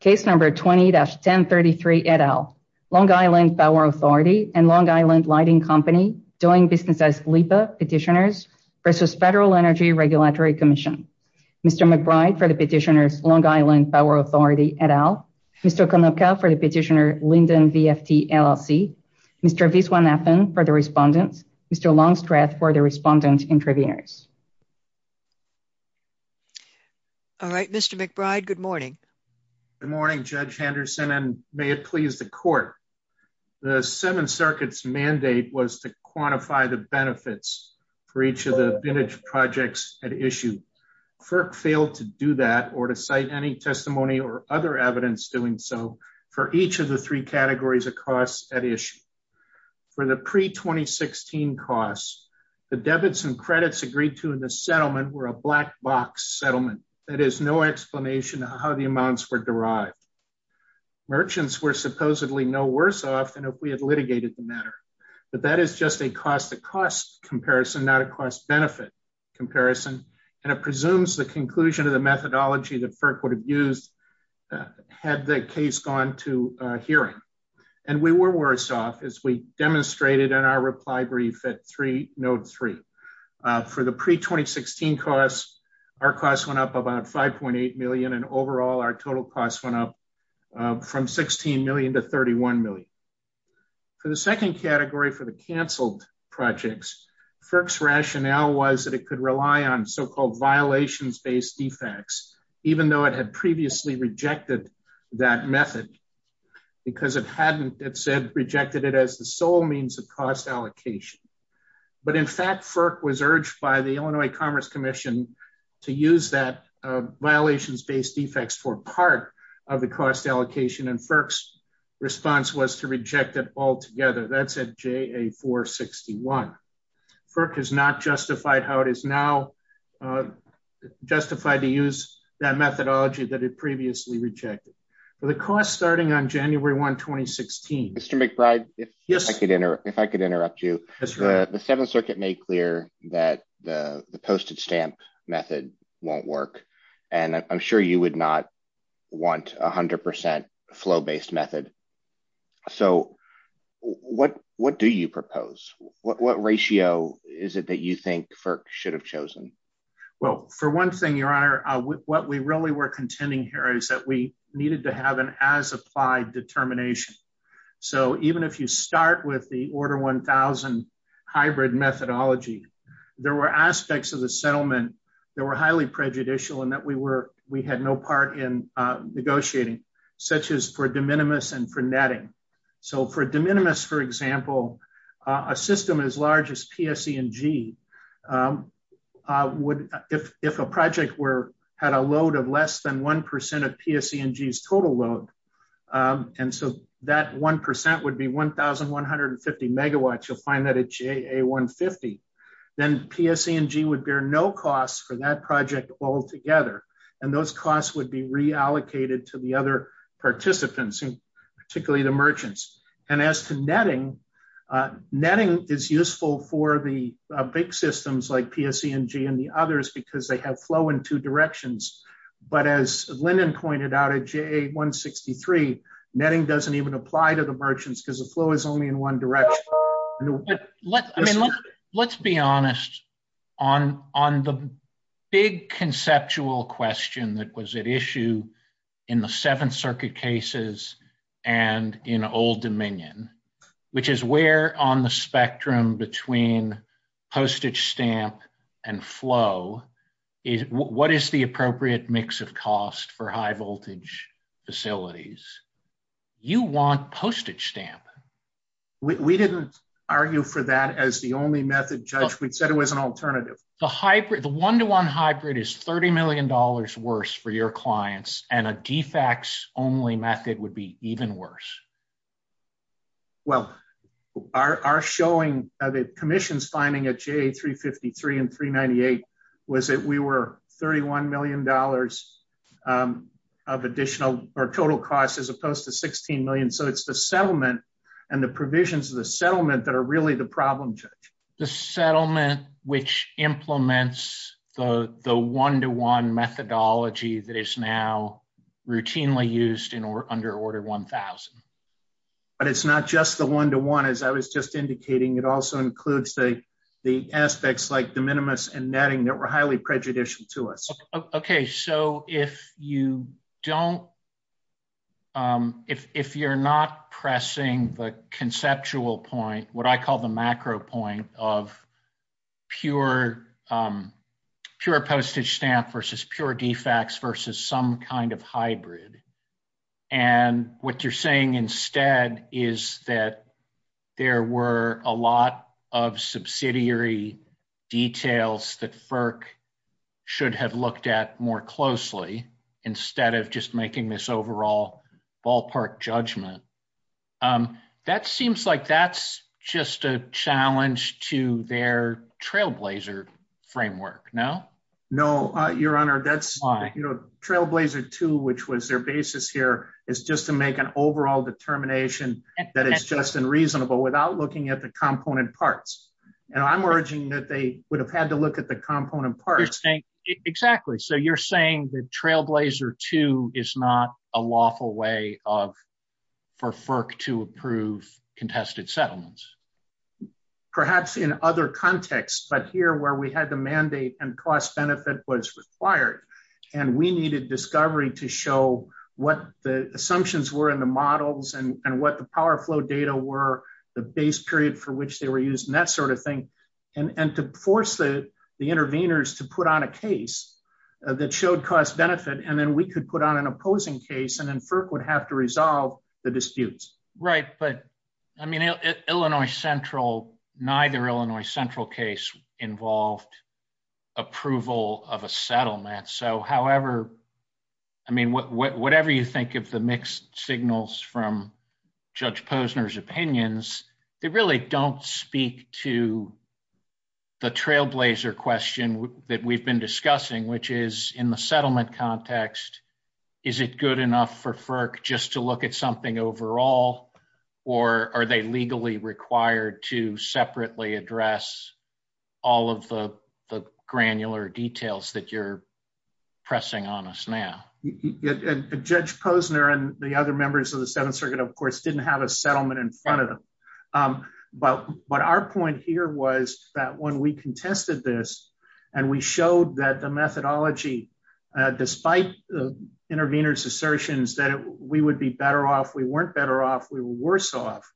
for the petitioner's Long Island Power Authority and Long Island Lighting Company doing business as LEPA petitioners versus Federal Energy Regulatory Commission. Mr. McBride for the petitioner's Long Island Power Authority et al. Mr. Konopka for the petitioner Lyndon VFT LLC. Mr. Viswanathan for the respondents. Mr. Longstreth for the respondent interviewers. All right. Mr. McBride, good morning. Good morning, Judge Henderson, and may it please the court. The Seventh Circuit's mandate was to quantify the benefits for each of the vintage projects at issue. FERC failed to do that or to cite any testimony or other evidence doing so for each of the three categories of costs at issue. For the pre-2016 costs, the debits and credits agreed to in the settlement were a black box settlement. That is no explanation of how the amounts were derived. Merchants were supposedly no worse off than if we had litigated the matter. But that is just a cost-to-cost comparison, not a cost-benefit comparison, and it presumes the conclusion of the methodology that FERC would have used had the case gone to hearing. And we were worse off as we demonstrated in our reply brief at node three. For the pre-2016 costs, our costs went up about $5.8 million, and overall, our total costs went up from $16 million to $31 million. For the second category, for the canceled projects, FERC's rationale was that it could rely on so-called violations-based defects, even though it had previously rejected that method because it hadn't, it said, rejected it as the sole means of cost allocation. But in fact, FERC was urged by the Illinois Commerce Commission to use that violations-based defects for part of the cost allocation, and FERC's response was to reject it altogether. That's at JA461. FERC has not justified how it is now justified to use that methodology that it previously rejected. For the costs starting on January 1, 2016 Mr. McBride, if I could interrupt you, the Seventh Circuit made clear that the posted stamp method won't work, and I'm sure you would not want 100% flow-based method. So what do you propose? What ratio is it that you think FERC should have chosen? Well, for one thing, Your Honor, what we really were contending here is that we needed to have an as-applied determination. So even if you start with the quarter-1,000 hybrid methodology, there were aspects of the settlement that were highly prejudicial and that we had no part in negotiating, such as for de minimis and for netting. So for de minimis, for example, a system as large as PSE&G, if a project had a load of less than 1% of PSE&G's total load, and so that 1% would be 1,150 megawatts, you'll find that at JA150, then PSE&G would bear no costs for that project altogether, and those costs would be reallocated to the other participants, particularly the merchants. And as to netting, netting is useful for the big systems like PSE&G and the others because they have flow in two directions. But as Lyndon pointed out at JA163, netting doesn't even apply to the merchants because the flow is only in one direction. Let's be honest, on the big conceptual question that was at issue in the Seventh Circuit cases and in Old Dominion, which is where on the spectrum between postage stamp and flow, what is the appropriate mix of cost for high voltage facilities? You want postage stamp. We didn't argue for that as the only method, Judge. We said it was an alternative. The one-to-one hybrid is $30 million worse for your clients, and a defects-only method would be even worse. Well, our showing, the commission's finding at JA353 and 398 was that we were $31 million of additional or total cost as opposed to $16 million. So it's the settlement and the provisions of the settlement that are really the problem, Judge. The settlement which implements the one-to-one methodology that is now routinely used under order 1000. But it's not just the one-to-one as I was just indicating. It also includes the aspects like the minimus and netting that were highly prejudicial to us. Okay. So if you don't if you're not pressing the conceptual point, what I call the macro point of pure postage stamp versus pure defects versus some kind of hybrid, and what you're saying instead is that there were a lot of subsidiary details that FERC should have looked at more closely instead of just making this overall ballpark judgment. That seems like that's just a challenge to their trailblazer framework, no? No, your honor. Why? Trailblazer too which was their basis here is just to make an overall determination that is just and reasonable without looking at the component parts. And I'm urging that they would have had to look at the component parts. Exactly. So you're saying that trailblazer too is not a lawful way of for FERC to approve contested settlements. Perhaps in other contexts, but here where we had the mandate and cost-benefit was required, and we needed discovery to show what the assumptions were in the models and what the power flow data were, the base period for which they were used, and that sort of thing. And to force the interveners to put on a case that showed cost-benefit and then we could put on an opposing case and then FERC would have to resolve the disputes. Right, but I mean, Illinois Central, neither Illinois Central case involved approval of a So however, I mean, whatever you think of the mixed signals from Judge Posner's opinions, they really don't speak to the trailblazer question that we've been discussing, which is in the settlement context, is it good enough for FERC just to look at something overall, or are they legally required to separately address all of the granular details that you're pressing on us now? members of the 7th Circuit, of course, didn't have a settlement in front of them. But our point here was that when we contested this and we showed that the methodology, despite the interveners' assertions that we would be better off, we weren't better off, we were worse off,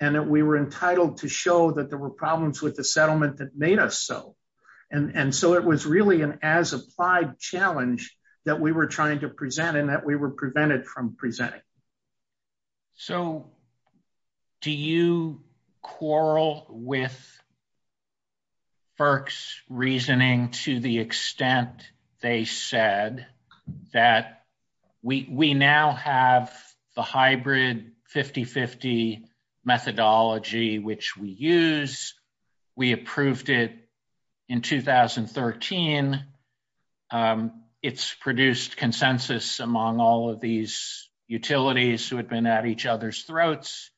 and that we were entitled to show that there were problems with the settlement that made us so. And so it was really an as applied challenge that we were trying to present and that we were prevented from presenting. So do you quarrel with FERC's reasoning to the extent they said that we now have the hybrid 50-50 methodology which we use, we approved it in 2013, it's produced consensus among all of these utilities who had been at each other's throats,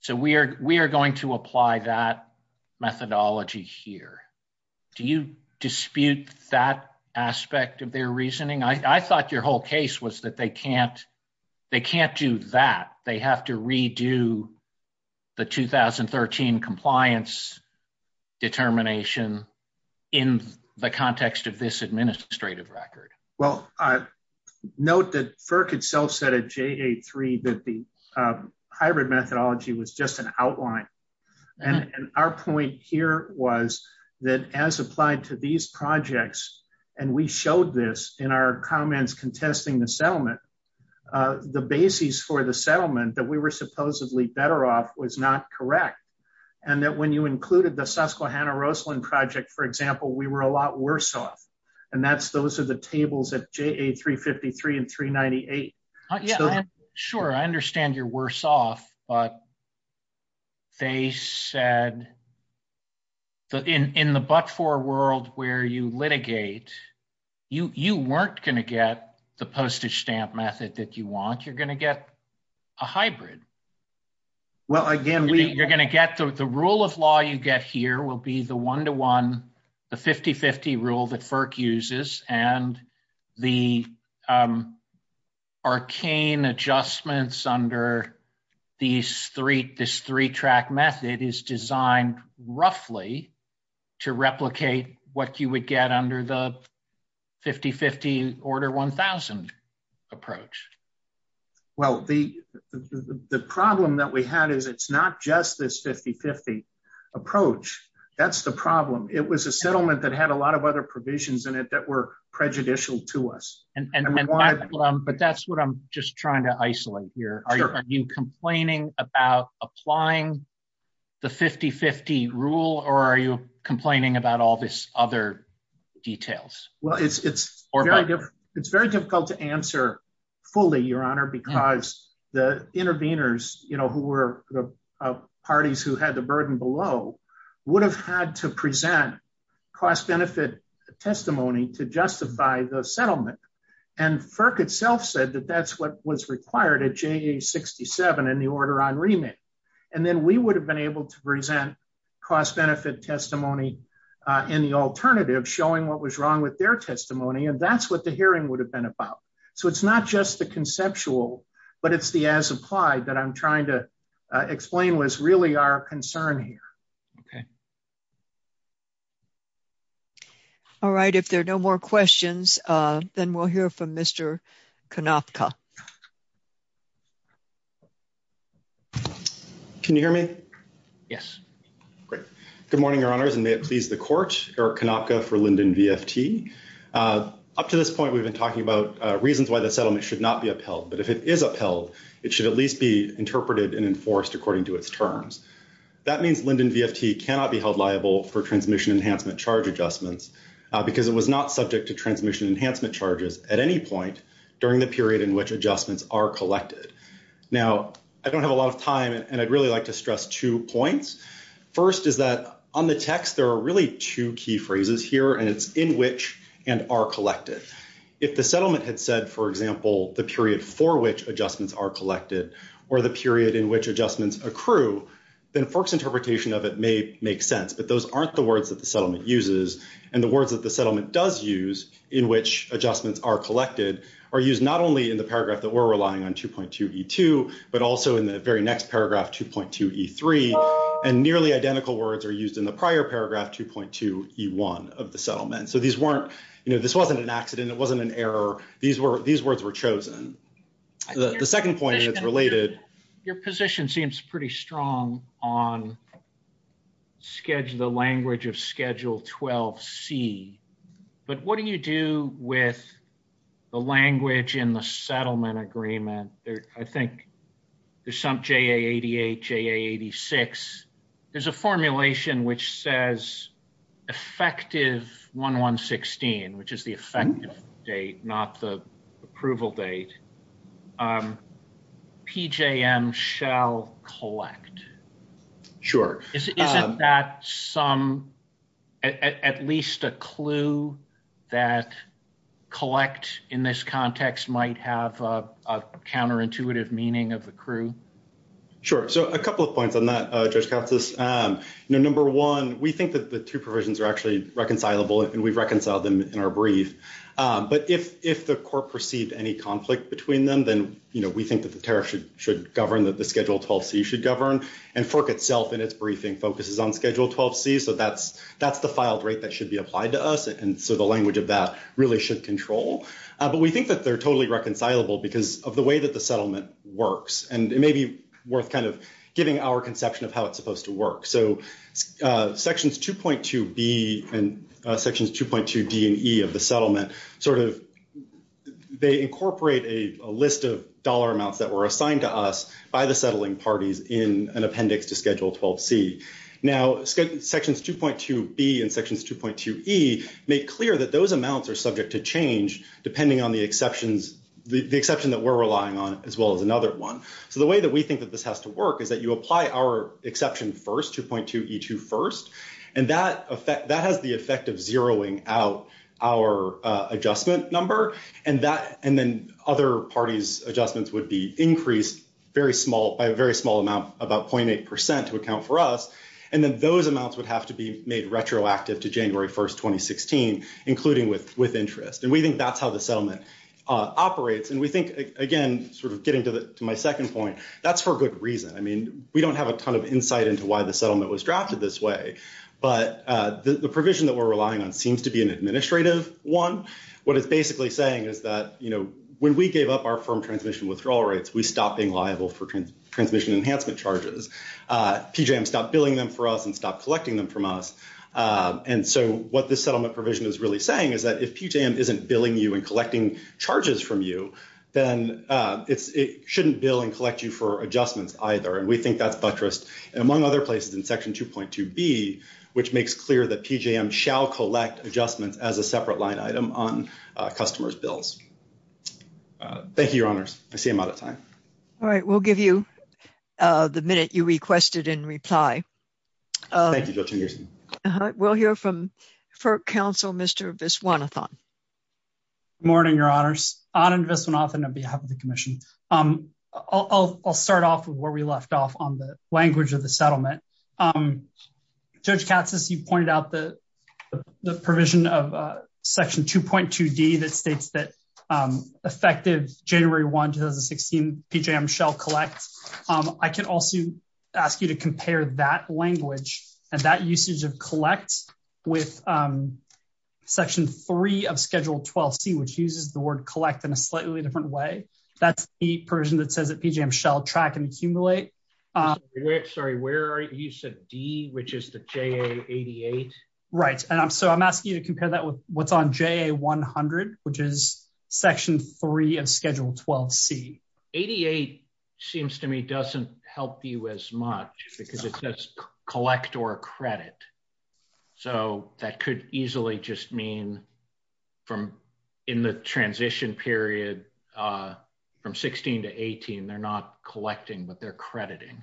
so we are going to apply that methodology here. Do you dispute that aspect of their reasoning? I thought your whole case was that they can't do that. They have to redo the 2013 compliance determination in the context of this administrative record. Well, note that FERC itself said at JA3 that the hybrid methodology was just an outline, and our point here was that as applied to these projects, and we showed this in our comments contesting the settlement, the basis for the settlement that we were supposedly better off was not correct, and that when you included the Susquehanna Roseland project, for example, we were a lot worse off, and those are the tables at JA353 and 398. Sure. I understand you're worse off, but they said in the but-for world where you litigate, you weren't going to get the postage stamp method that you want. You're going to get a hybrid. Well, again, we you're going to get the rule of law you get here will be the one-to-one, the 50-50 rule that FERC uses, and the arcane adjustments under these three-track method is designed roughly to replicate what you would get under the 50-50 order 1,000 approach. Well, the problem that we had is it's not just this 50-50 approach. That's the problem. It was a settlement that had a lot of other provisions in it that were prejudicial to us. But that's what I'm just trying to isolate here. Are you complaining about applying the 50-50 rule, or are you complaining about all this other details? Well, it's very difficult to the interveners, you know, who were parties who had the burden below would have had to present cost-benefit testimony to justify the settlement. And FERC itself said that that's what was required at JA67 in the order on remake. And then we would have been able to present cost-benefit testimony in the alternative showing what was wrong with their testimony, and that's what the hearing would have been about. So it's not just the conceptual, but it's the as-applied that I'm trying to explain was really our concern here. Okay? All right. If there are no more questions, then we'll hear from Mr. Konopka. Can you hear me? Yes. Great. Good morning, Your Honors, and may it please the court. Eric Konopka for Linden VFT. Up to this point, we've been talking about reasons why the settlement should not be upheld. But if it is upheld, it should at least be interpreted and addressed. That means Linden VFT cannot be held liable for transmission enhancement charge adjustments because it was not subject to transmission enhancement charges at any point during the period in which adjustments are collected. Now, I don't have a lot of time, and I'd really like to stress two points. First is that on the text, there are really two key phrases here and it's in which and are collected. If the settlement had said, for example, the period in which adjustments are collected or the period in which adjustments accrue, then FERC's interpretation of it may make sense. But those aren't the words that the settlement uses, and the words that the settlement does use in which adjustments are collected are used not only in the paragraph that we're relying on, 2.2e2, but also in the very next paragraph, 2.2e3, and nearly identical words are used in the prior paragraph, 2.2e1 of the settlement. So these weren't, you know, this wasn't an accident, it wasn't an error, these words were chosen. The second point is related. Your position seems pretty strong on the language of Schedule 12C, but what do you do with the language in the settlement agreement? I think there's some JA88, JA86. There's a formulation which says effective 1116, which is the effective date, not the approval date, PJM shall collect. Sure. Isn't that some, at least a clue that collect in this context might have a counterintuitive meaning of accrue? Sure. So a couple of points on that, Judge Katsas. You know, number one, we think that the two provisions are actually reconcilable and we've reconciled them in our brief, but if the court perceived any conflict between them, then, you know, we think that the tariff should govern, that the Schedule 12C should govern, and FERC itself in its briefing focuses on Schedule 12C, so that's the filed rate that should be applied to us, and so the language of that really should control, but we think that they're totally reconcilable because of the way that the settlement works, and it may be worth kind of giving our conception of how it's going to work, so Sections 2.2B and Sections 2.2D and E of the settlement sort of, they incorporate a list of dollar amounts that were assigned to us by the settling parties in an appendix to Schedule 12C. Now, Sections 2.2B and Sections 2.2E make clear that those amounts are subject to change depending on the exceptions, the exception that we're relying on as well as another one, so the way that we think that this has to work is that you apply our exception first, 2.2E2 first, and that has the effect of zeroing out our adjustment number, and then other parties' adjustments would be increased by a very small amount, about .8% to account for us, and then those amounts would have to be made retroactive to January 1, 2016, including with interest, and we think that's how the settlement operates, and we think, again, sort of getting to my second point, that's for good reason. I mean, we don't have a ton of insight into why the settlement was drafted this way, but the provision that we're relying on seems to be an administrative one. What it's basically saying is that, you know, when we gave up our firm transmission withdrawal rates, we stopped being liable for transmission enhancement charges. PJM stopped billing them for us and stopped collecting them from us, and so what this settlement provision is really saying is that if PJM isn't billing you and collecting charges from you, then it shouldn't bill and collect you for adjustments either, and we think that's buttressed, and among other places in section 2.2b, which makes clear that PJM shall collect adjustments as a separate line item on customers' bills. Thank you, your honors. I see I'm out of time. All right. We'll give you the minute you requested in reply. Thank you, Judge Anderson. Uh-huh. We'll hear from FERC counsel, Mr. Viswanathan. Good morning, your honors. Anand Viswanathan on behalf of the commission. I'll start off with where we left off on the language of the Judge Katsas, you pointed out the provision of section 2.2d that states that effective January 1, 2016, PJM shall collect. I can also ask you to compare that language and that usage of collect with section 3 of schedule 12c, which uses the word collect in a slightly different way. That's the provision that says that PJM shall track and accumulate. Sorry, where are you? You said D, which is the JA88? Right. So I'm asking you to compare that with what's on JA100, which is section 3 of schedule 12c. 88 seems to me doesn't help you as much because it says collect or accredit. So that could easily just mean from in the transition period, from 16 to 18, they're not collecting, but they're crediting.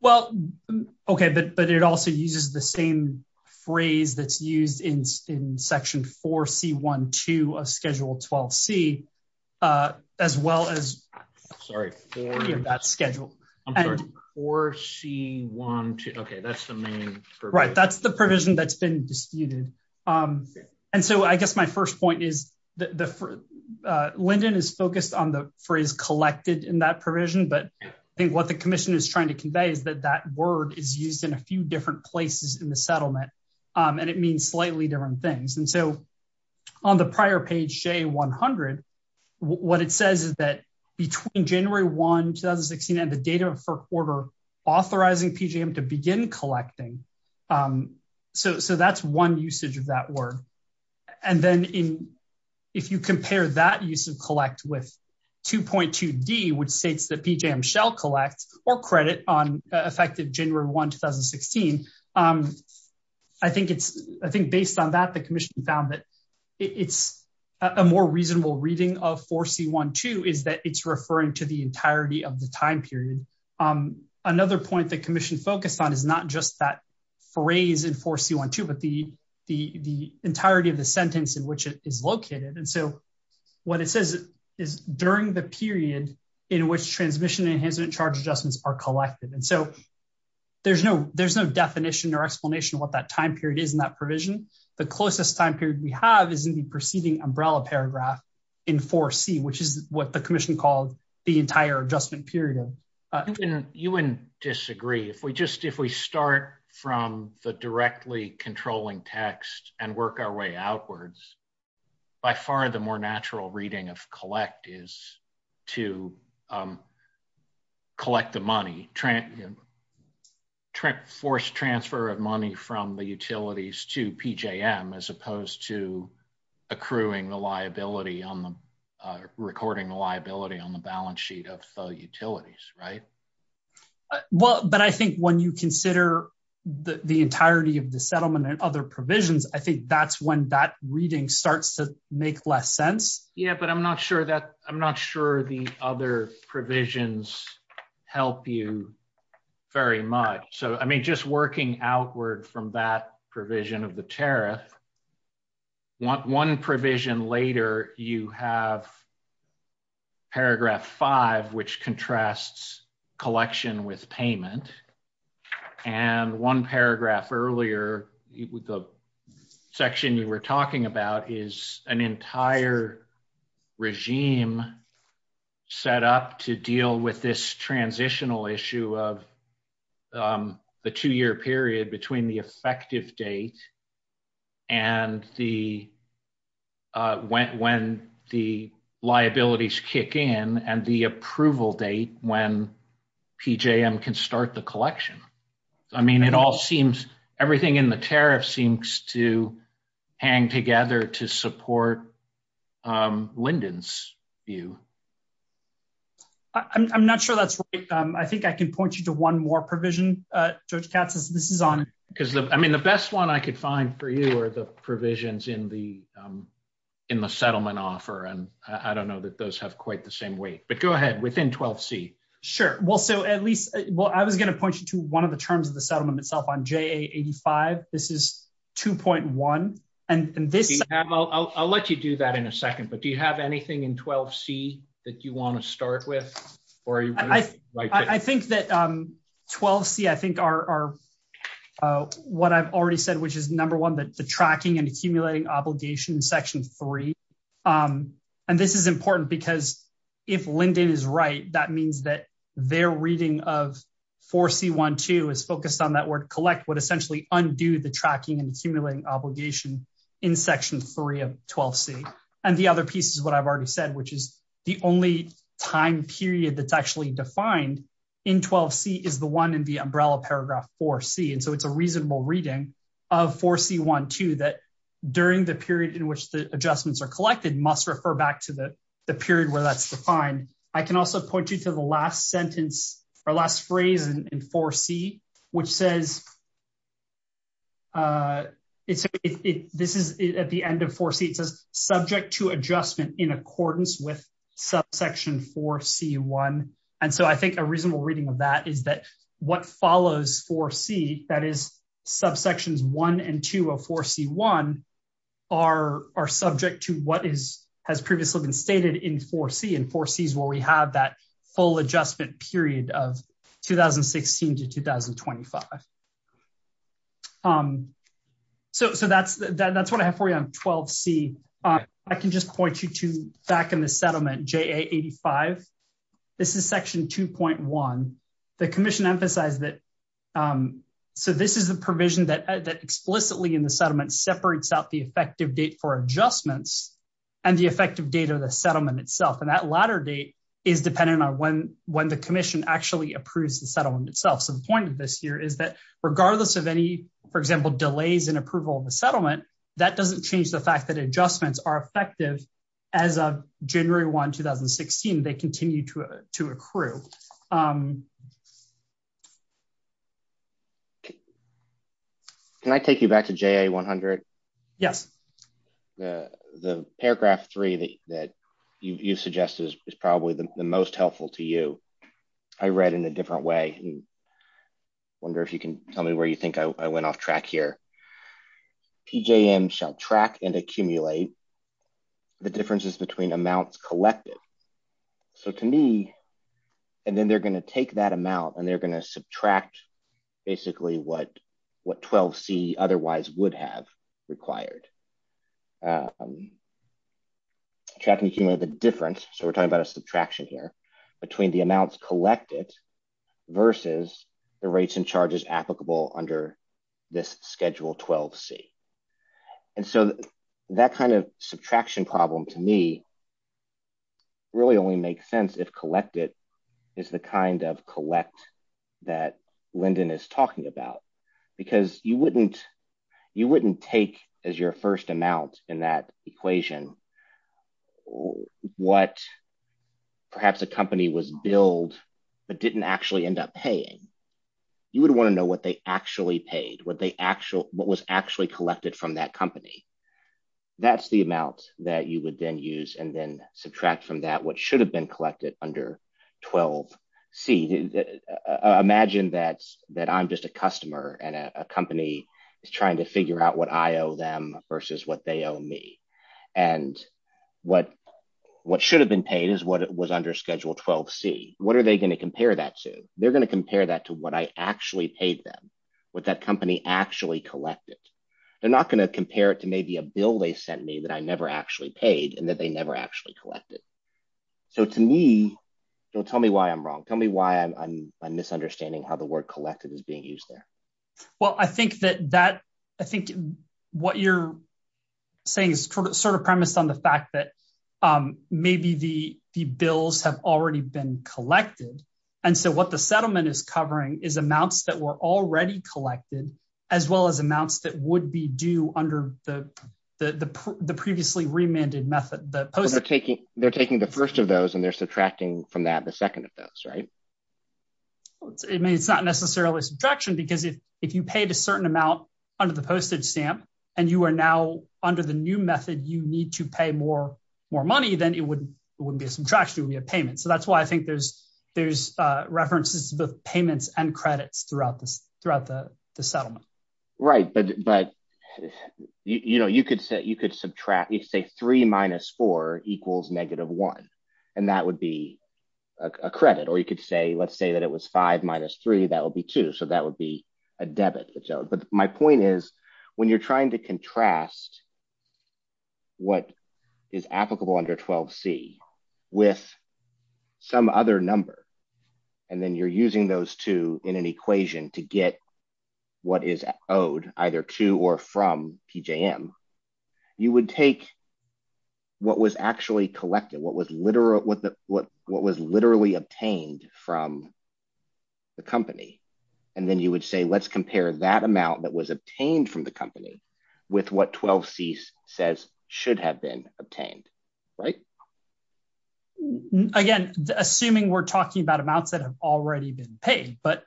Well, okay. But it also uses the same phrase that's used in section 4c.1.2 of schedule 12c, as well as... Sorry. That schedule. I'm sorry. 4c.1.2. Okay. That's the main... Right. That's the provision that's been disputed. And so I guess my first point is Lyndon is focused on the phrase collected in that provision, but I think what the commission is trying to convey is that that word is used in a few different places in the settlement, and it means slightly different things. And so on the prior page, JA100, what it says is that between January 1, 2016, and the date of the first quarter authorizing PJM to begin collecting, so that's one usage of that word. And then if you compare that use of collect with 2.2D, which states that PJM shall collect or credit on effective January 1, 2016, I think based on that, the commission found that it's a more reasonable reading of 4c.1.2 is that it's referring to the entirety of the time period. Another point the commission focused on is not just that phrase in 4c.1.2, but the entirety of the sentence in which it is located. And so what it says is during the period in which transmission enhancement and charge adjustments are collected. And so there's no definition or explanation of what that time period is in that provision. The closest time period we have is in the preceding umbrella paragraph in 4c, which is what the commission called the entire adjustment period. You wouldn't disagree. If we start from the directly controlling text and work our way outwards, by far the more natural reading of collect is to collect the money, force transfer of money from the utilities to PJM as opposed to accruing the liability on the recording the liability on the balance sheet of the utilities, right? Well, but I think when you consider the entirety of the settlement and other provisions, I think that's when that reading starts to make less sense. Yeah, but I'm not sure that I'm not sure the other provisions help you very much. So, I mean, just working outward from that provision of the tariff, one provision later you have paragraph 5, which contrasts collection with payment. And one paragraph earlier, the section you were talking about is an entire regime set up to deal with this transitional issue of the two-year period between the effective date and the when the liabilities kick in and the approval date when PJM can start the collection. I mean, it all seems everything in the tariff seems to hang together to support Lyndon's view. I'm not sure that's right. I think I can point you to one more provision, Judge Katz. This is on. I mean, the best one I could find for you are the provisions in the settlement offer, and I don't know that those have quite the same weight. But go ahead. Within 12C. I was going to point you to one of the terms of the settlement itself on JA85. This is 2.1. I'll let you do that in a second, but do you have anything in 12C that you want to start with? I think that 12C, I think, are what I've already said, which is number one, the tracking and accumulating obligation in section 3. And this is important because if Lyndon is right, that means that their reading of 4C.1.2 is focused on that word collect would essentially undo the tracking and accumulating obligation in section 3 of 12C. And the other piece is what I've already said, which is the only time period that's actually defined in 12C is the one in the umbrella paragraph 4C. And so it's a reasonable reading of 4C.1.2 that during the period in which the adjustments are collected must refer back to the period where that's defined. I can also point you to the last sentence or last phrase in 4C, which says this is at the end of 4C. It says subject to adjustment in accordance with subsection 4C.1. And so I think a reasonable reading of that is that what follows 4C, that is subsections 1 and 2 of 4C.1, are subject to what has previously been stated in 4C, and 4C is where we have that full adjustment period of 2016 to 2025. So that's what I have for you on 12C. I can just point you to back in the settlement, JA85. This is section 2.1. The commission emphasized that so this is the provision that explicitly in the settlement separates out the effective date for adjustments and the effective date of the settlement itself. And that latter date is dependent on when the commission actually approves the settlement itself. So the point of this here is that regardless of any, for example, delays in approval of the settlement, that doesn't change the fact that adjustments are effective as of January 1, 2016. They continue to accrue. So can I take you back to JA100? Yes. The paragraph 3 that you suggested is probably the most helpful to you. I read in a different way. I wonder if you can tell me where you think I went off track here. PJM shall track and accumulate the differences between amounts collected. So to me, and then they're going to take that amount and they're going to subtract basically what 12C otherwise would have required. Tracking the difference, so we're talking about a subtraction here, between the amounts collected versus the rates and charges applicable under this schedule 12C. And so that kind of subtraction problem to me really only makes sense if collected is the kind of collect that Lyndon is talking about. Because you wouldn't take as your first amount in that equation what perhaps a company was billed but didn't actually end up paying. You would want to know what they actually paid, what was actually collected from that company. That's the amount that you would then use and then subtract from that what should have been collected under 12C. Imagine that I'm just a customer and a company is trying to figure out what I owe them versus what they owe me. And what should have been paid is what was under schedule 12C. What are they going to compare that to? They're going to compare that to what I actually paid them, what that company actually collected. They're not going to compare it to maybe a bill they sent me that I never actually paid and that they never actually collected. So to me, don't tell me why I'm wrong. Tell me why I'm misunderstanding how the word collected is being used there. Well, I think what you're saying is sort of premised on the fact that maybe the bills have already been collected. And so what the settlement is covering is amounts that were already collected as well as amounts that would be due under the previously remanded method. They're taking the first of those and they're subtracting from that the second of those, right? It's not necessarily a subtraction because if you paid a certain amount under the postage stamp and you are now under the new method, you need to pay more money, then it wouldn't be a subtraction, it would be a payment. So that's why I think there's references to both payments and credits throughout the settlement. Right. But, you know, you could say subtract, you could say 3 minus 4 equals negative 1. And that would be a credit. Or you could say, let's say that it was 5 minus 3, that would be 2. So that would be a debit. But my point is, when you're trying to contrast what is applicable under 12C with some other number, and then you're using those two in an equation to get what is owed either to or from PJM, you would take what was actually collected, what was literally obtained from the company, and then you would say let's compare that amount that was obtained from the company with what 12C says should have been obtained, right? Again, assuming we're talking about amounts that have already been paid, but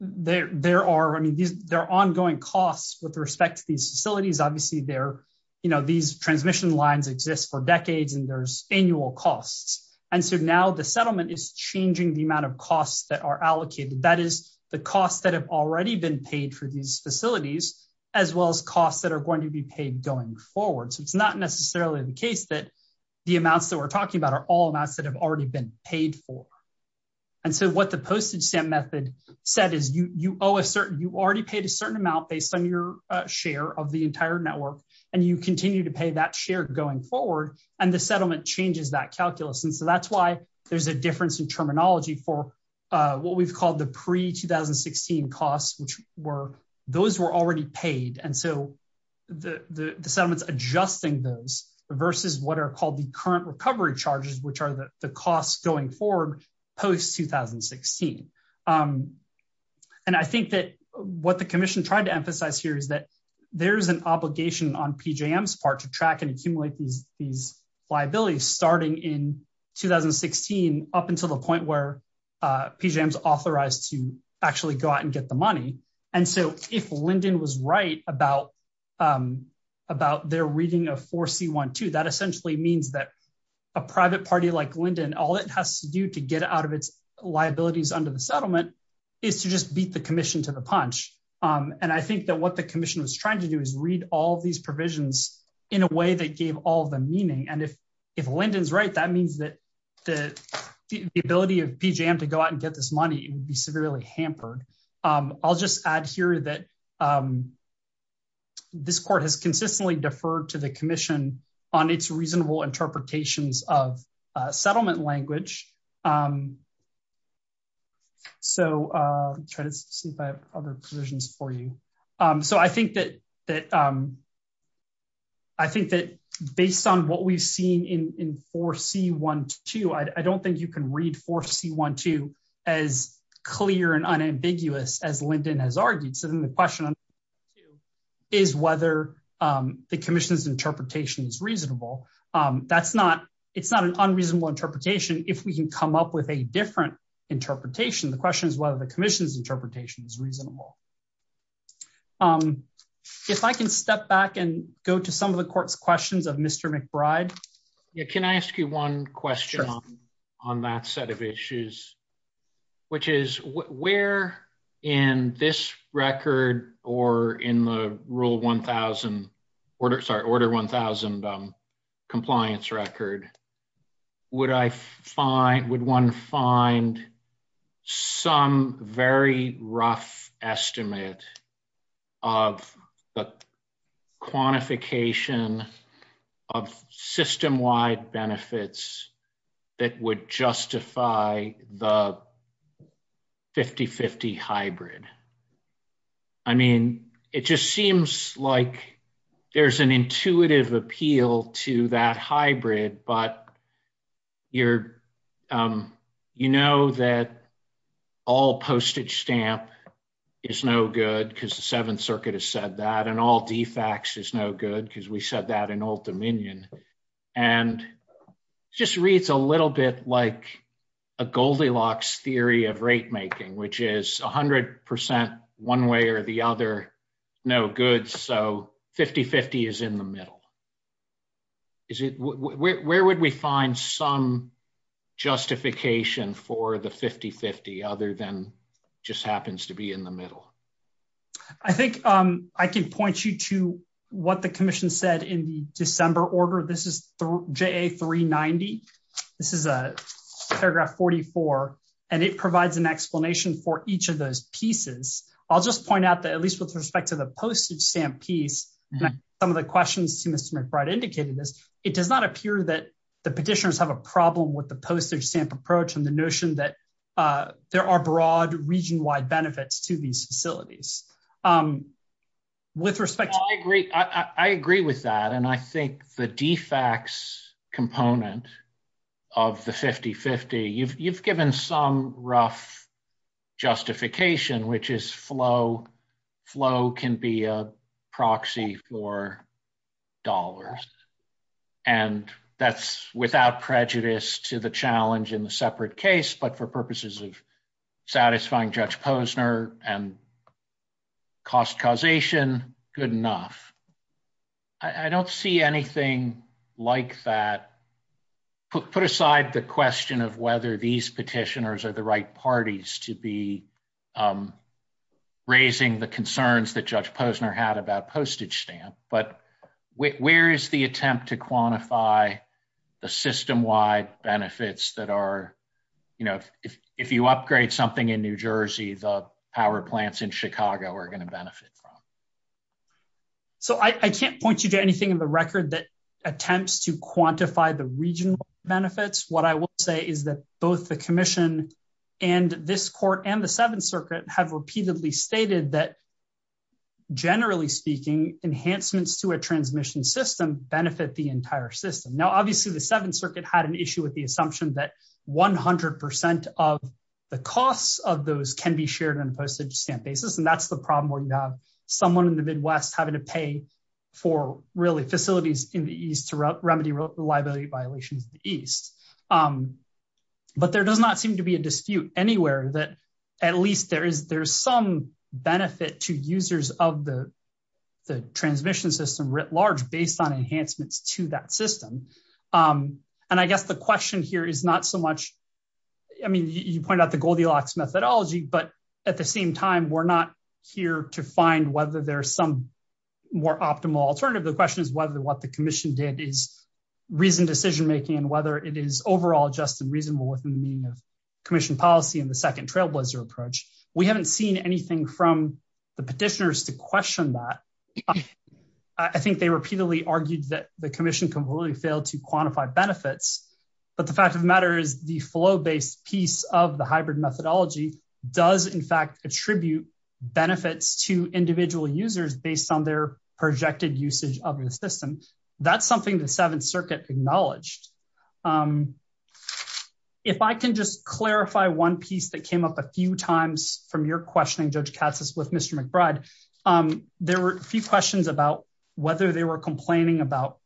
there are ongoing costs with respect to these facilities. Obviously, these transmission lines exist for decades and there's annual costs. And so now the settlement is changing the amount of costs that are allocated. That is the costs that have already been paid for these facilities as well as costs that are going to be paid going forward. So it's not necessarily the case that the amounts that we're talking about are all amounts that have already been paid for. And so what the postage stamp method said is you already paid a certain amount based on your share of the entire network, and you continue to pay that share going forward, and the settlement changes that calculus. And so that's why there's a difference in terminology for what we've called the pre-2016 costs, which were those were already paid. And so the settlement is adjusting those versus what are called the current recovery charges, which are the costs going forward post-2016. And I think that what the commission tried to emphasize here is that there's an obligation on PJM's part to track and accumulate these liabilities starting in 2016 up until the point where PJM's authorized to actually go out and get the money. And so if Lyndon was right about their reading of 4C.1.2, that essentially means that a private party like Lyndon, all it has to do to get out of its liabilities under the settlement is to just beat the commission to the punch. And I think that what the commission was trying to do is read all these provisions in a way that gave all the meaning. And if Lyndon's right, that means that the ability of PJM to go out and get this money would be severely hampered. I'll just add here that this court has consistently deferred to the commission on its reasonable interpretations of 4C.1.2. So I'll try to see if I have other provisions for you. So I think that based on what we've seen in 4C.1.2, I don't think you can read 4C.1.2 as clear and unambiguous as Lyndon has argued. So then the question is whether the commission's interpretation is reasonable. That's not an unreasonable interpretation. If we can come up with a different interpretation, the question is whether the commission's interpretation is reasonable. If I can step back and go to some of the court's questions of Mr. McBride. Can I ask you one question on that set of issues? Which is where in this record or in the rule 1,000, sorry, order 1,000 compliance record would I find, would one find some very rough estimate of the quantification of system-wide benefits that would justify the 50-50 hybrid? I mean, it just seems like there's an intuitive appeal to that hybrid, but you know that all postage stamp is no good because the Seventh Circuit has said that, and all DFAX is no good because we said that in Old Dominion. And it just reads a little bit like a Goldilocks theory of rate-making, which is 100% one way or the other no good, so 50-50 is in the middle. Where would we find some justification for the 50-50 other than just happens to be in the middle? I think I can point you to what the commission said in the December order. This is JA 390. This is paragraph 44, and it provides an explanation for each of those pieces. I'll just point out that at least with respect to the postage stamp piece, some of the questions to Mr. McBride indicated this, it does not appear that the petitioners have a problem with the postage stamp approach and the notion that there are broad, region-wide benefits to these facilities. With respect to the... I agree with that, and I think the DFAX component of the 50-50, you've given some rough justification, which is flow can be a proxy for dollars, and that's without prejudice to the challenge in the separate case, but for purposes of satisfying Judge Posner and cost causation, good enough. I don't see anything like that. Put aside the question of whether these petitioners are the right parties to be raising the question, I don't know what question Judge Posner had about postage stamp, but where is the attempt to quantify the system- wide benefits that are, you know, if you upgrade something in New Jersey, the power plants in Chicago are going to benefit from? So I can't point you to anything in the record that attempts to quantify the regional benefits. What I will say is that both the commission and this court and the Seventh Circuit have repeatedly stated that generally speaking, enhancements to a transmission system benefit the entire system. Now obviously the Seventh Circuit had an issue with the assumption that 100% of the costs of those can be shared on a postage stamp basis, and that's the problem where you have someone in the Midwest having to pay for facilities in the east to remedy liability violations in the east. But there does not seem to be a dispute anywhere that at least there's some benefit to users of the transmission system writ large based on enhancements to that system. And I guess the question here is not so much, I mean, you point out the Goldilocks methodology, but at the same time, we're not here to find whether there's some more optimal alternative. The question is whether what the commission did is reasoned decision-making and whether it is overall just and reasonable within the meaning of commission policy and the second trailblazer approach. We haven't seen anything from the petitioners to question that. I think they repeatedly argued that the commission completely failed to quantify benefits, but the fact of the matter is the flow-based piece of the hybrid methodology does in fact attribute benefits to individual users based on their projected usage of the system. That's something the Seventh Circuit acknowledged. If I can just clarify one piece that came up a few times from your questioning, Judge Katz, with Mr. McBride, there were a few questions about whether they were complaining about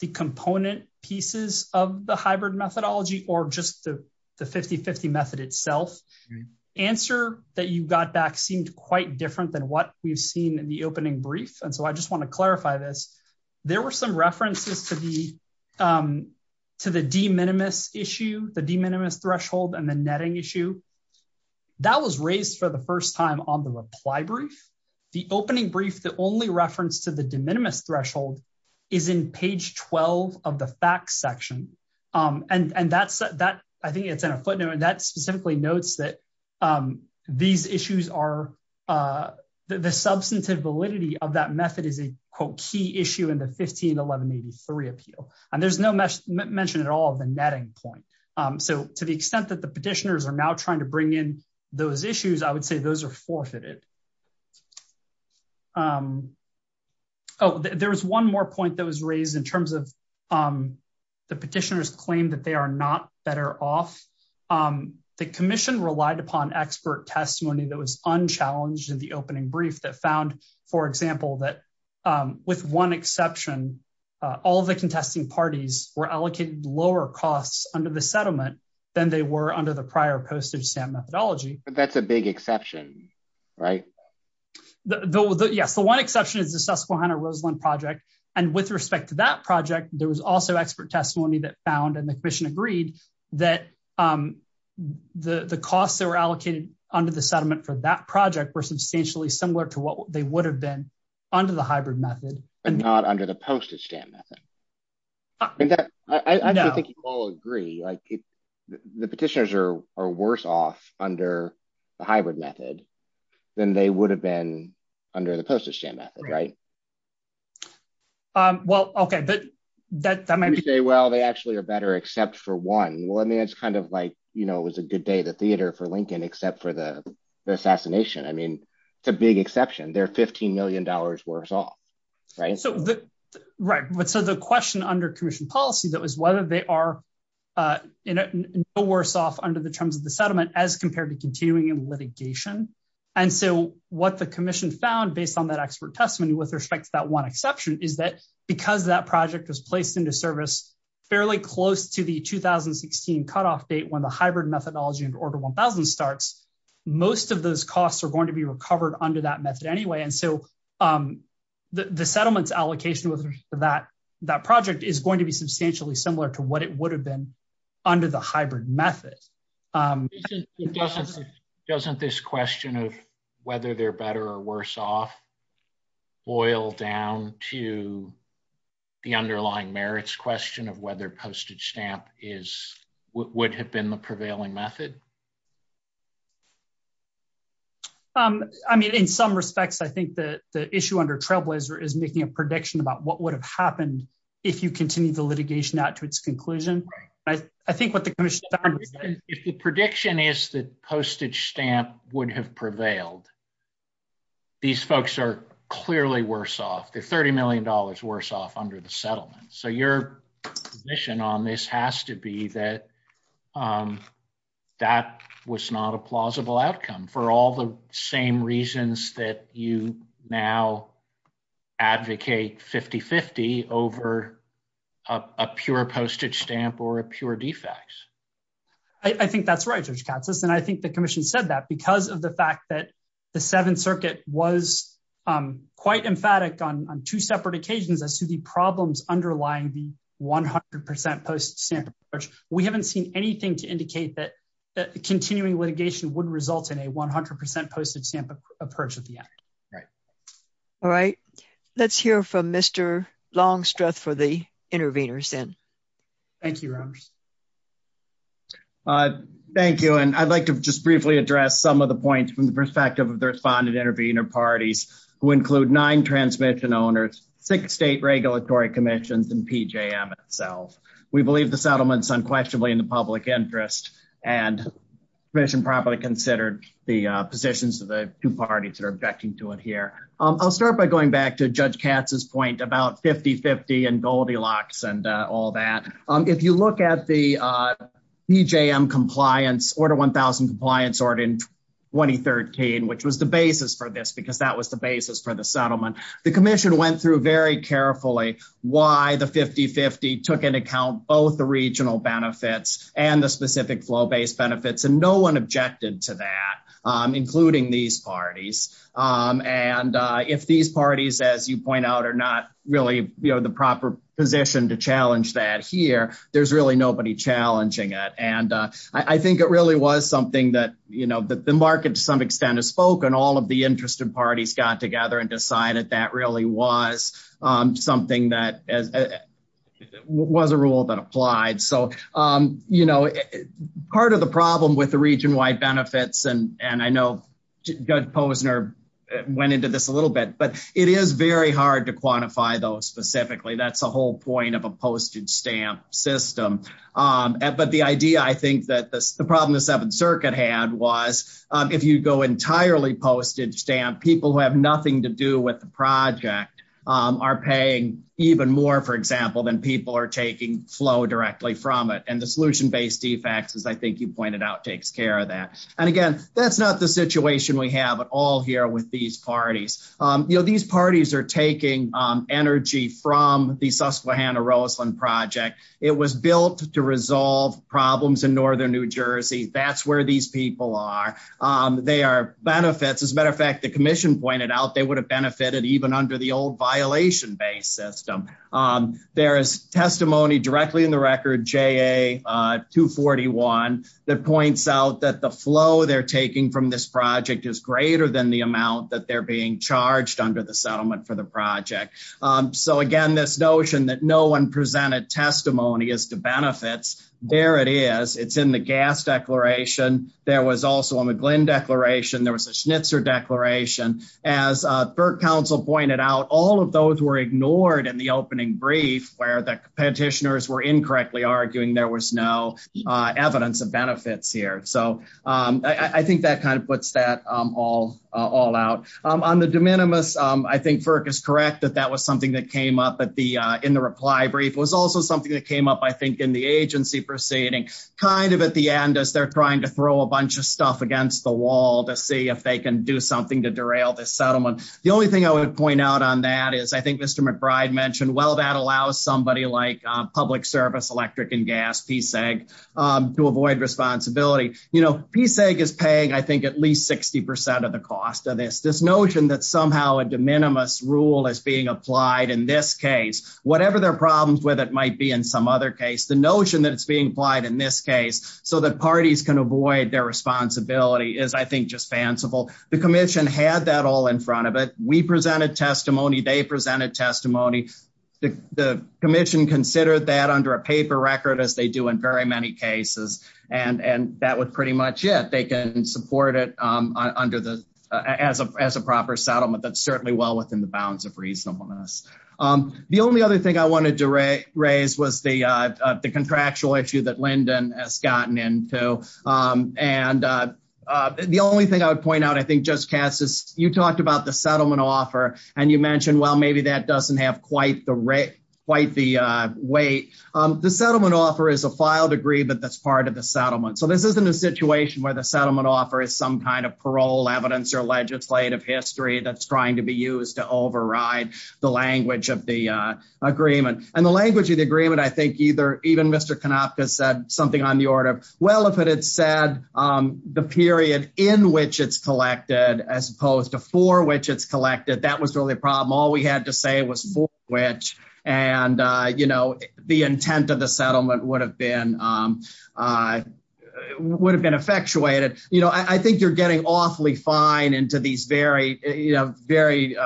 the component pieces of the hybrid methodology or just the 50-50 method itself. The answer that you got back seemed quite different than what we've seen in the opening brief, and so I just want to clarify this. There were some references to the de minimis issue, the de minimis threshold and the netting issue. That was raised for the first time on the reply brief. The opening brief, the only reference to the de minimis threshold is in page 12 of the facts section, and that's that I think it's in a footnote, and that specifically notes that these issues are the substantive validity of that method is a quote key issue in the 151183 appeal, and there's no mention at all of the netting point. So to the extent that the petitioners are now trying to bring in those issues, I would say those are forfeited. Oh, there was one more point that was raised in terms of the petitioners' claim that they are not better off. The commission relied upon expert testimony that was unchallenged in the opening brief that found, for example, that with one exception, all of the other contesting parties were allocated lower costs under the settlement than they were under the prior postage stamp methodology. That's a big exception, right? Yes, the one exception is the Susquehanna-Roseland project, and with respect to that project there was also expert testimony that found and the commission agreed that the costs that were allocated under the settlement for that project were substantially similar to what they would have been under the hybrid method. But not under the postage stamp method. I think you all agree. The petitioners are worse off under the hybrid method than they would have been under the postage stamp method, right? Well, okay. That might be true. Well, they actually are better except for one. It's kind of like it was a good day at the theater for Lincoln except for the assassination. It's a big exception. They're $15 million worse off. Right. So the question under commission policy that was whether they are no worse off under the terms of the settlement as compared to continuing litigation. And so what the commission found based on that expert testimony with respect to that one exception is that because that project was placed into service fairly close to the 2016 cutoff date when the hybrid methodology starts, most of those costs are going to be recovered under that method anyway. And so the settlement's allocation with respect to that project is going to be substantially similar to what it would have been under the hybrid method. Doesn't this question of whether they're better or worse off boil down to the underlying merits question of whether postage stamp would have been the prevailing method? I mean, in some respects, I think the issue under trail blazer is making a prediction about what would have happened if you continued the litigation out to its conclusion. I think what the commission found is that if the prediction is that postage stamp would have prevailed, these folks are clearly worse off. under the settlement. So your position on this has to be that that would have been the prevailing method. That was not a plausible outcome for all the same reasons that you now advocate 50-50 over a pure postage stamp or a pure defects. I think that's right, and I think the commission said that because of the fact that the seventh circuit was quite emphatic on two separate occasions as to the problems underlying the 100% postage stamp, that continuing litigation wouldn't result in a 100% postage stamp approach at the end. Right. All right. Let's hear from Mr. Longstroth for the intervenors then. Thank you. Thank you, and I'd like to just briefly address some of the points from the perspective of the respondent intervenor parties who include nine transmission owners, six state regulatory commissions and PJM itself. We believe the settlement is unquestionably in the public interest, and the commission probably considered the positions of the two parties that are objecting to it here. I'll start by going back to Judge Katz's point about 50-50 and Goldilocks and all that. If you look at the PJM compliance, order 1,000 compliance order in 2013, which was the basis for this because that was the basis for the settlement, the commission went through very carefully why the 50-50 took into account both the regional benefits and the specific flow-based benefits, and no one objected to that, including these parties. And if these parties, as you point out, are not really, you know, the proper position to challenge that here, there's really nobody challenging it. And I think it really was something that, you know, the market to some extent has spoken up, and all of the interested parties got together and decided that really was something that was a rule that applied. So, you know, part of the problem with the region-wide benefits, and I know Judge Posner went into this a little bit, but it is very hard to quantify those specifically. That's the whole point of a postage stamp system. But the idea, I think, that the problem the Seventh Circuit had was if you go entirely postage stamp, people who have nothing to do with the project are paying even more, for example, than people are taking flow directly from it, and the solution-based defects, as I think you pointed out, takes care of that. And, again, that's not the situation we have at all here with these parties. You know, these parties are taking energy from the Susquehanna Roseland project. It was built to resolve problems in northern New Jersey. That's where these people are. They are benefits. As a matter of fact, the commission pointed out they would have benefited even under the old violation-based system. There is testimony directly in the record, JA241, that points out that the flow they're taking from this project is greater than the amount that they're being charged under the settlement for the project. So, again, this notion that no one presented testimony as to whether or not they were benefiting from this, it's in the gas declaration. There was also a McGlynn declaration. There was a Schnitzer declaration. As FERC counsel pointed out, all of those were ignored in the opening brief where the petitioners were incorrectly arguing there was no evidence of benefits here. So I think that kind of puts that all out. On the de minimis, I think FERC is correct that that was something that came up in the opening brief. I think it's kind of at the end as they're trying to throw a bunch of stuff against the wall to see if they can do something to derail this settlement. The only thing I would point out on that is I think Mr. McBride mentioned, well, that allows somebody like public service, electric and gas, PSEG, to avoid responsibility. You know, PSEG is paying, I think, at least 60% of the cost of this. This notion that somehow a de minimis rule is being applied in this case, whatever their problems with it might be in some other case, the notion that it's being applied in this case so that parties can avoid their responsibility is I think just fanciful. The commission had that all in front of it. We presented testimony. They presented testimony. The commission considered that under a paper record as they do in very many cases, and that was pretty much it. They can support it under the as a proper settlement that's certainly well within the bounds of reasonableness. The only other thing I wanted to raise was the contractual issue that Lyndon has gotten into. And the only thing I would point out, I think, Judge Katz, is you talked about the settlement offer and you mentioned, well, maybe that doesn't have quite the weight. The settlement offer is a file degree, but that's part of the settlement. So this isn't a situation where the settlement offer is some kind of parole evidence or legislative history that's trying to be used to override the language of the agreement. And the language of the agreement, I think even Mr. Konopka said something on the order, well, if it had said the period in which it's collected as opposed to for which it's collected, that was really a problem. All we had to say was for which. And, you know, the intent of the settlement would have been to have the agreement manufactured. You know, I think you're getting awfully fine into these very, you know, very,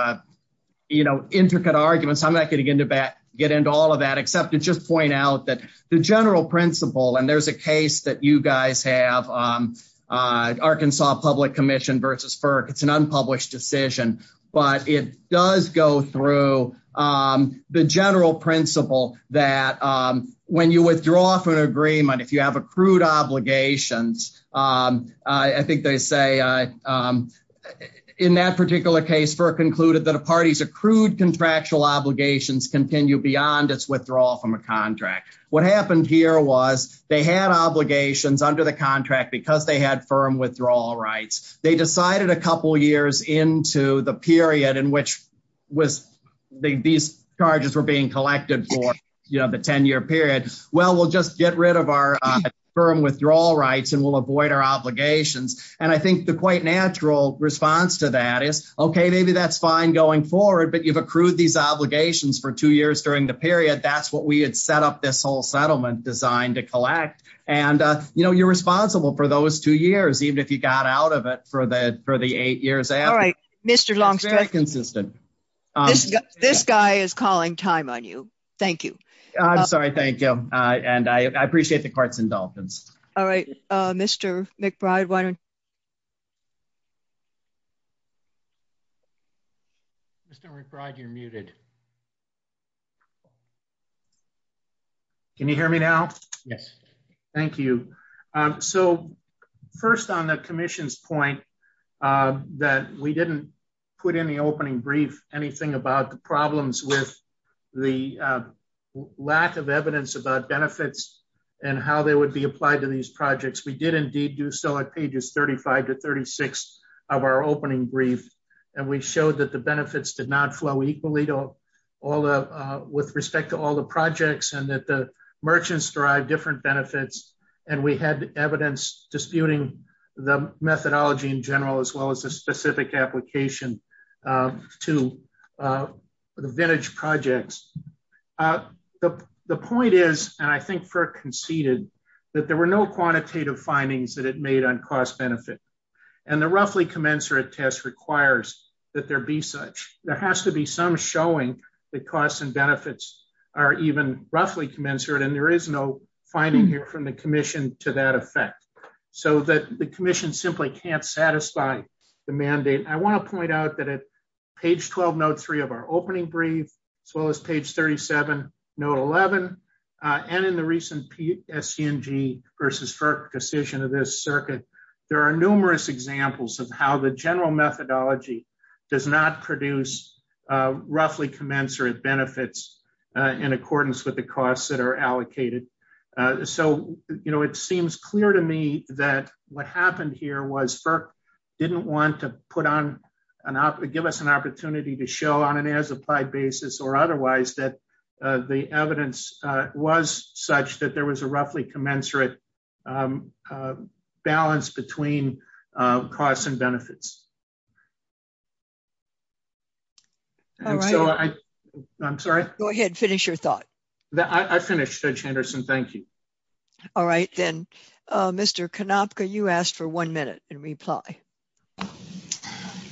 you know, intricate arguments. I'm not going to get into all of that except to just point out that the general principle, and there's a case that you guys have, Arkansas Public Commission versus FERC, it's an unpublished decision, but it does go through the general principle that when you withdraw from an agreement, if you have accrued obligations, I think they say in that particular case FERC concluded that a party's accrued contractual obligations continue beyond its withdrawal from a contract. What happened here was they had obligations under the contract because they had firm withdrawal rights. They decided a couple of years into the period in which these charges were being collected for the ten-year period, well, we'll just get rid of our firm withdrawal rights and we'll avoid our obligations, and I think the quite natural response to that is okay, maybe that's fine going forward, but you've accrued these obligations for two years during the period, that's what we had set up this whole settlement designed to collect, and, you know, you're responsible for those two years, even if you got out of it for the eight years after. It's very consistent. This guy is calling time on you. Thank you. I'm sorry. Thank you. And I appreciate the carts and dolphins. All right. Mr. McBride, why don't you go ahead. Mr. McBride, you're muted. Can you hear me now? Yes. Thank you. So first on the commission's opening brief anything about the problems with the withdrawal contract. We did put it in the opening brief. We had no lack of evidence about benefits and how they would be applied to these projects. We did indeed do so at pages 35 to 36 of our opening brief, and we showed that the benefits did not flow equally with respect to all the projects and that the merchants derived different benefits, and we had evidence disputing the methodology in general as well as the specific application to the vintage projects. The point is, and I think Frick conceded, that there were no quantitative findings that it made on cost-benefit, and the roughly commensurate test requires that there be such. There has to be some showing that costs and benefits are even roughly commensurate, and there is no finding here from the commission to that effect, so that the commission simply can't satisfy the mandate. I want to point out that at page 12, note three of our opening brief, as well as page 37, note 11, and in the recent SCNG versus Frick decision of this circuit, there are numerous examples of how the general methodology does not produce roughly commensurate benefits in accordance with the costs that are allocated. So, you know, it seems clear to me that what happened here was Frick didn't want to put on an opportunity, give us an opportunity to look at the evidence, give us an opportunity to show on an as-applied basis or otherwise that the evidence was such that there was a roughly commensurate balance between costs and benefits. So I'm sorry? Go ahead. Finish your thought. I finished, Judge Henderson. Thank you. All right. Then Mr. Konopka, you asked for one minute in reply.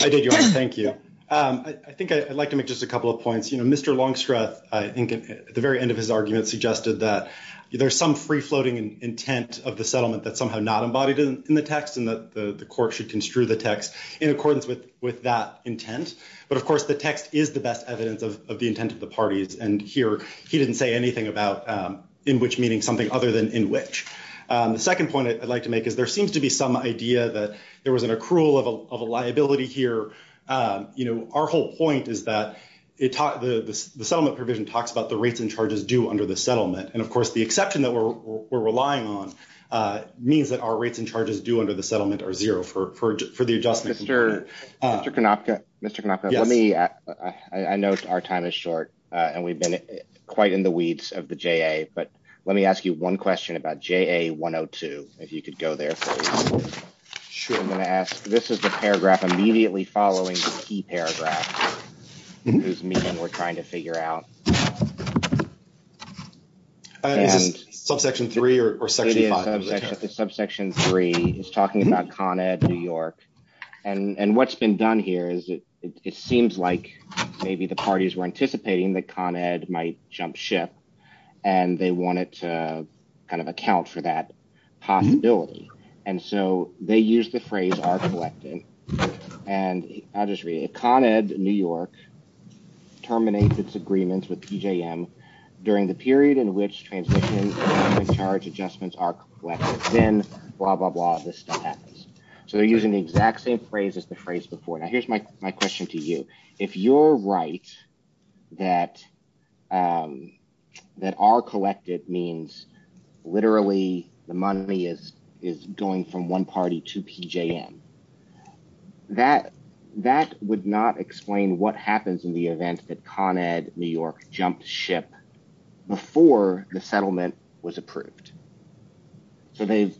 I did, Your Honor. Thank you. I think I'd like to make just a couple of points. You know, Mr. Longstreth, I think at the very end of his argument suggested that there's some free-floating intent of the settlement that's somehow not embodied in the text and that the court should construe the text in accordance with that intent. But, of course, the text is the best evidence of the intent of the parties, and here he didn't say anything about in which meaning something other than in which. The second point I'd like to make is there seems to be some idea that there was an accrual of liability here. You know, our whole point is that the settlement provision talks about the rates and charges due under the settlement, and, of course, the exception that we're relying on means that our rates and charges due under the settlement are zero for the adjustment. Mr. Konopka, let me ask. I know our time is short, and we've been quite in the weeds of the JA, but let me ask you one question about JA 102, if you could go there, please. Sure. I'm going to ask. This is the paragraph immediately following the key paragraph whose meaning we're trying to figure out. Is this subsection 3 or section 5? It's subsection 3. It's talking about Con Ed New York, and what's been done here is it seems like maybe the parties were anticipating that Con Ed might jump ship, and they want it to kind of account for that possibility, and so they used the phrase are collected, and I'll just read it. Con Ed New York terminates its agreements with PJM during the period in which transition and charge adjustments are collected. Then blah, blah, blah, this stuff happens. So they're using the exact same phrase as the phrase before. Now, here's my question to you. If you're right that are collected means literally the money is going from one party to PJM, that would not explain what happens in the event that Con Ed New York jumped ship before the settlement was approved. So they've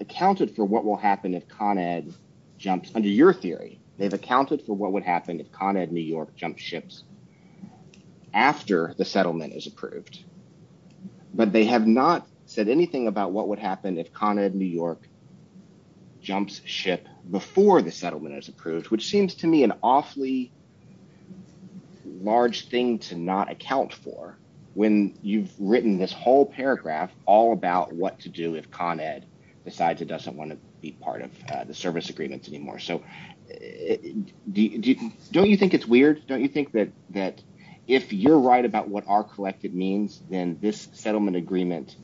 accounted for what will happen if Con Ed jumps. Under your theory, they've accounted for what would happen if Con Ed New York jumped ships after the settlement is approved, but they have not said anything about what would happen if Con Ed New York jumps ship. If Con Ed New York jumps ship before the settlement is approved, which seems to me an awfully large thing to not account for when you've written this whole paragraph all about what to do if Con Ed decides it doesn't want to be part of the service agreements anymore. So don't you think it's weird? Don't you think that if you're right about what are collected means, then this settlement agreement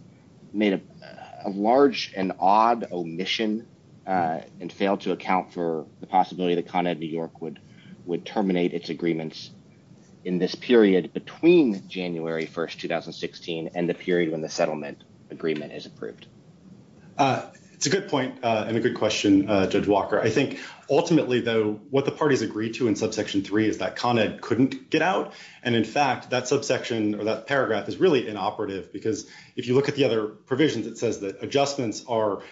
made a large and odd omission and failed to account for the possibility that Con Ed New York would terminate its agreements in this period between January 1st, 2016, and the period when the settlement agreement is approved? It's a good point and a good question, Judge Walker. I think ultimately, though, what the parties agreed to in subsection 3 is that Con Ed couldn't get out, and in fact, that subsection or that paragraph is really inoperative because if you look at the other provisions it says that adjustments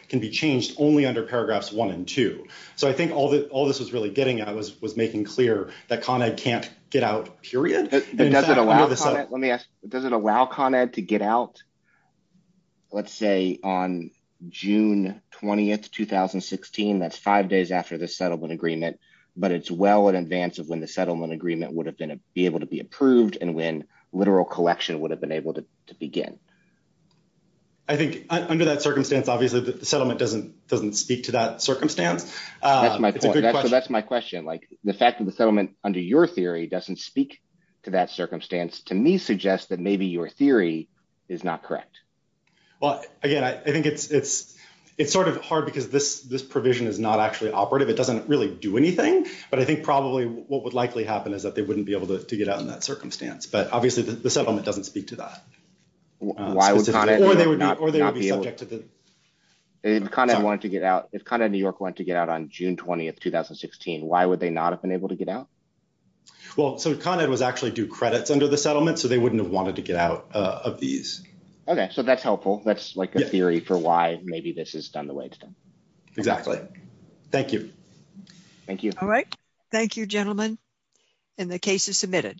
can be changed only under paragraphs 1 and 2. So I think all this was really getting at was making clear that Con Ed can't get out, period. Does it allow Con Ed to get out, let's say, on June 20th, 2016? That's five days after the settlement agreement, but it's well in advance of when the settlement agreement would have been able to be approved and when literal collection would have been able to begin. I think under that circumstance, obviously, the settlement doesn't speak to that circumstance. That's my question. The fact that the settlement under your theory doesn't speak to that circumstance, to me, suggests that maybe your theory is not correct. Well, again, I think it's sort of hard because this provision is not actually operative. It doesn't really do anything, but I think probably what would likely happen is that they wouldn't be if the settlement doesn't speak to that. If Con Ed wanted to get out, if Con Ed New York wanted to get out on June 20th, 2016, why would they not have been able to get out? Well, so Con Ed was actually due credits under the settlement, so they wouldn't have wanted to get out of these. Okay, so that's helpful. That's like a theory for why maybe this is done the way it's done. Exactly. Thank you. Thank you. All right. Thank you, gentlemen, and the case is submitted.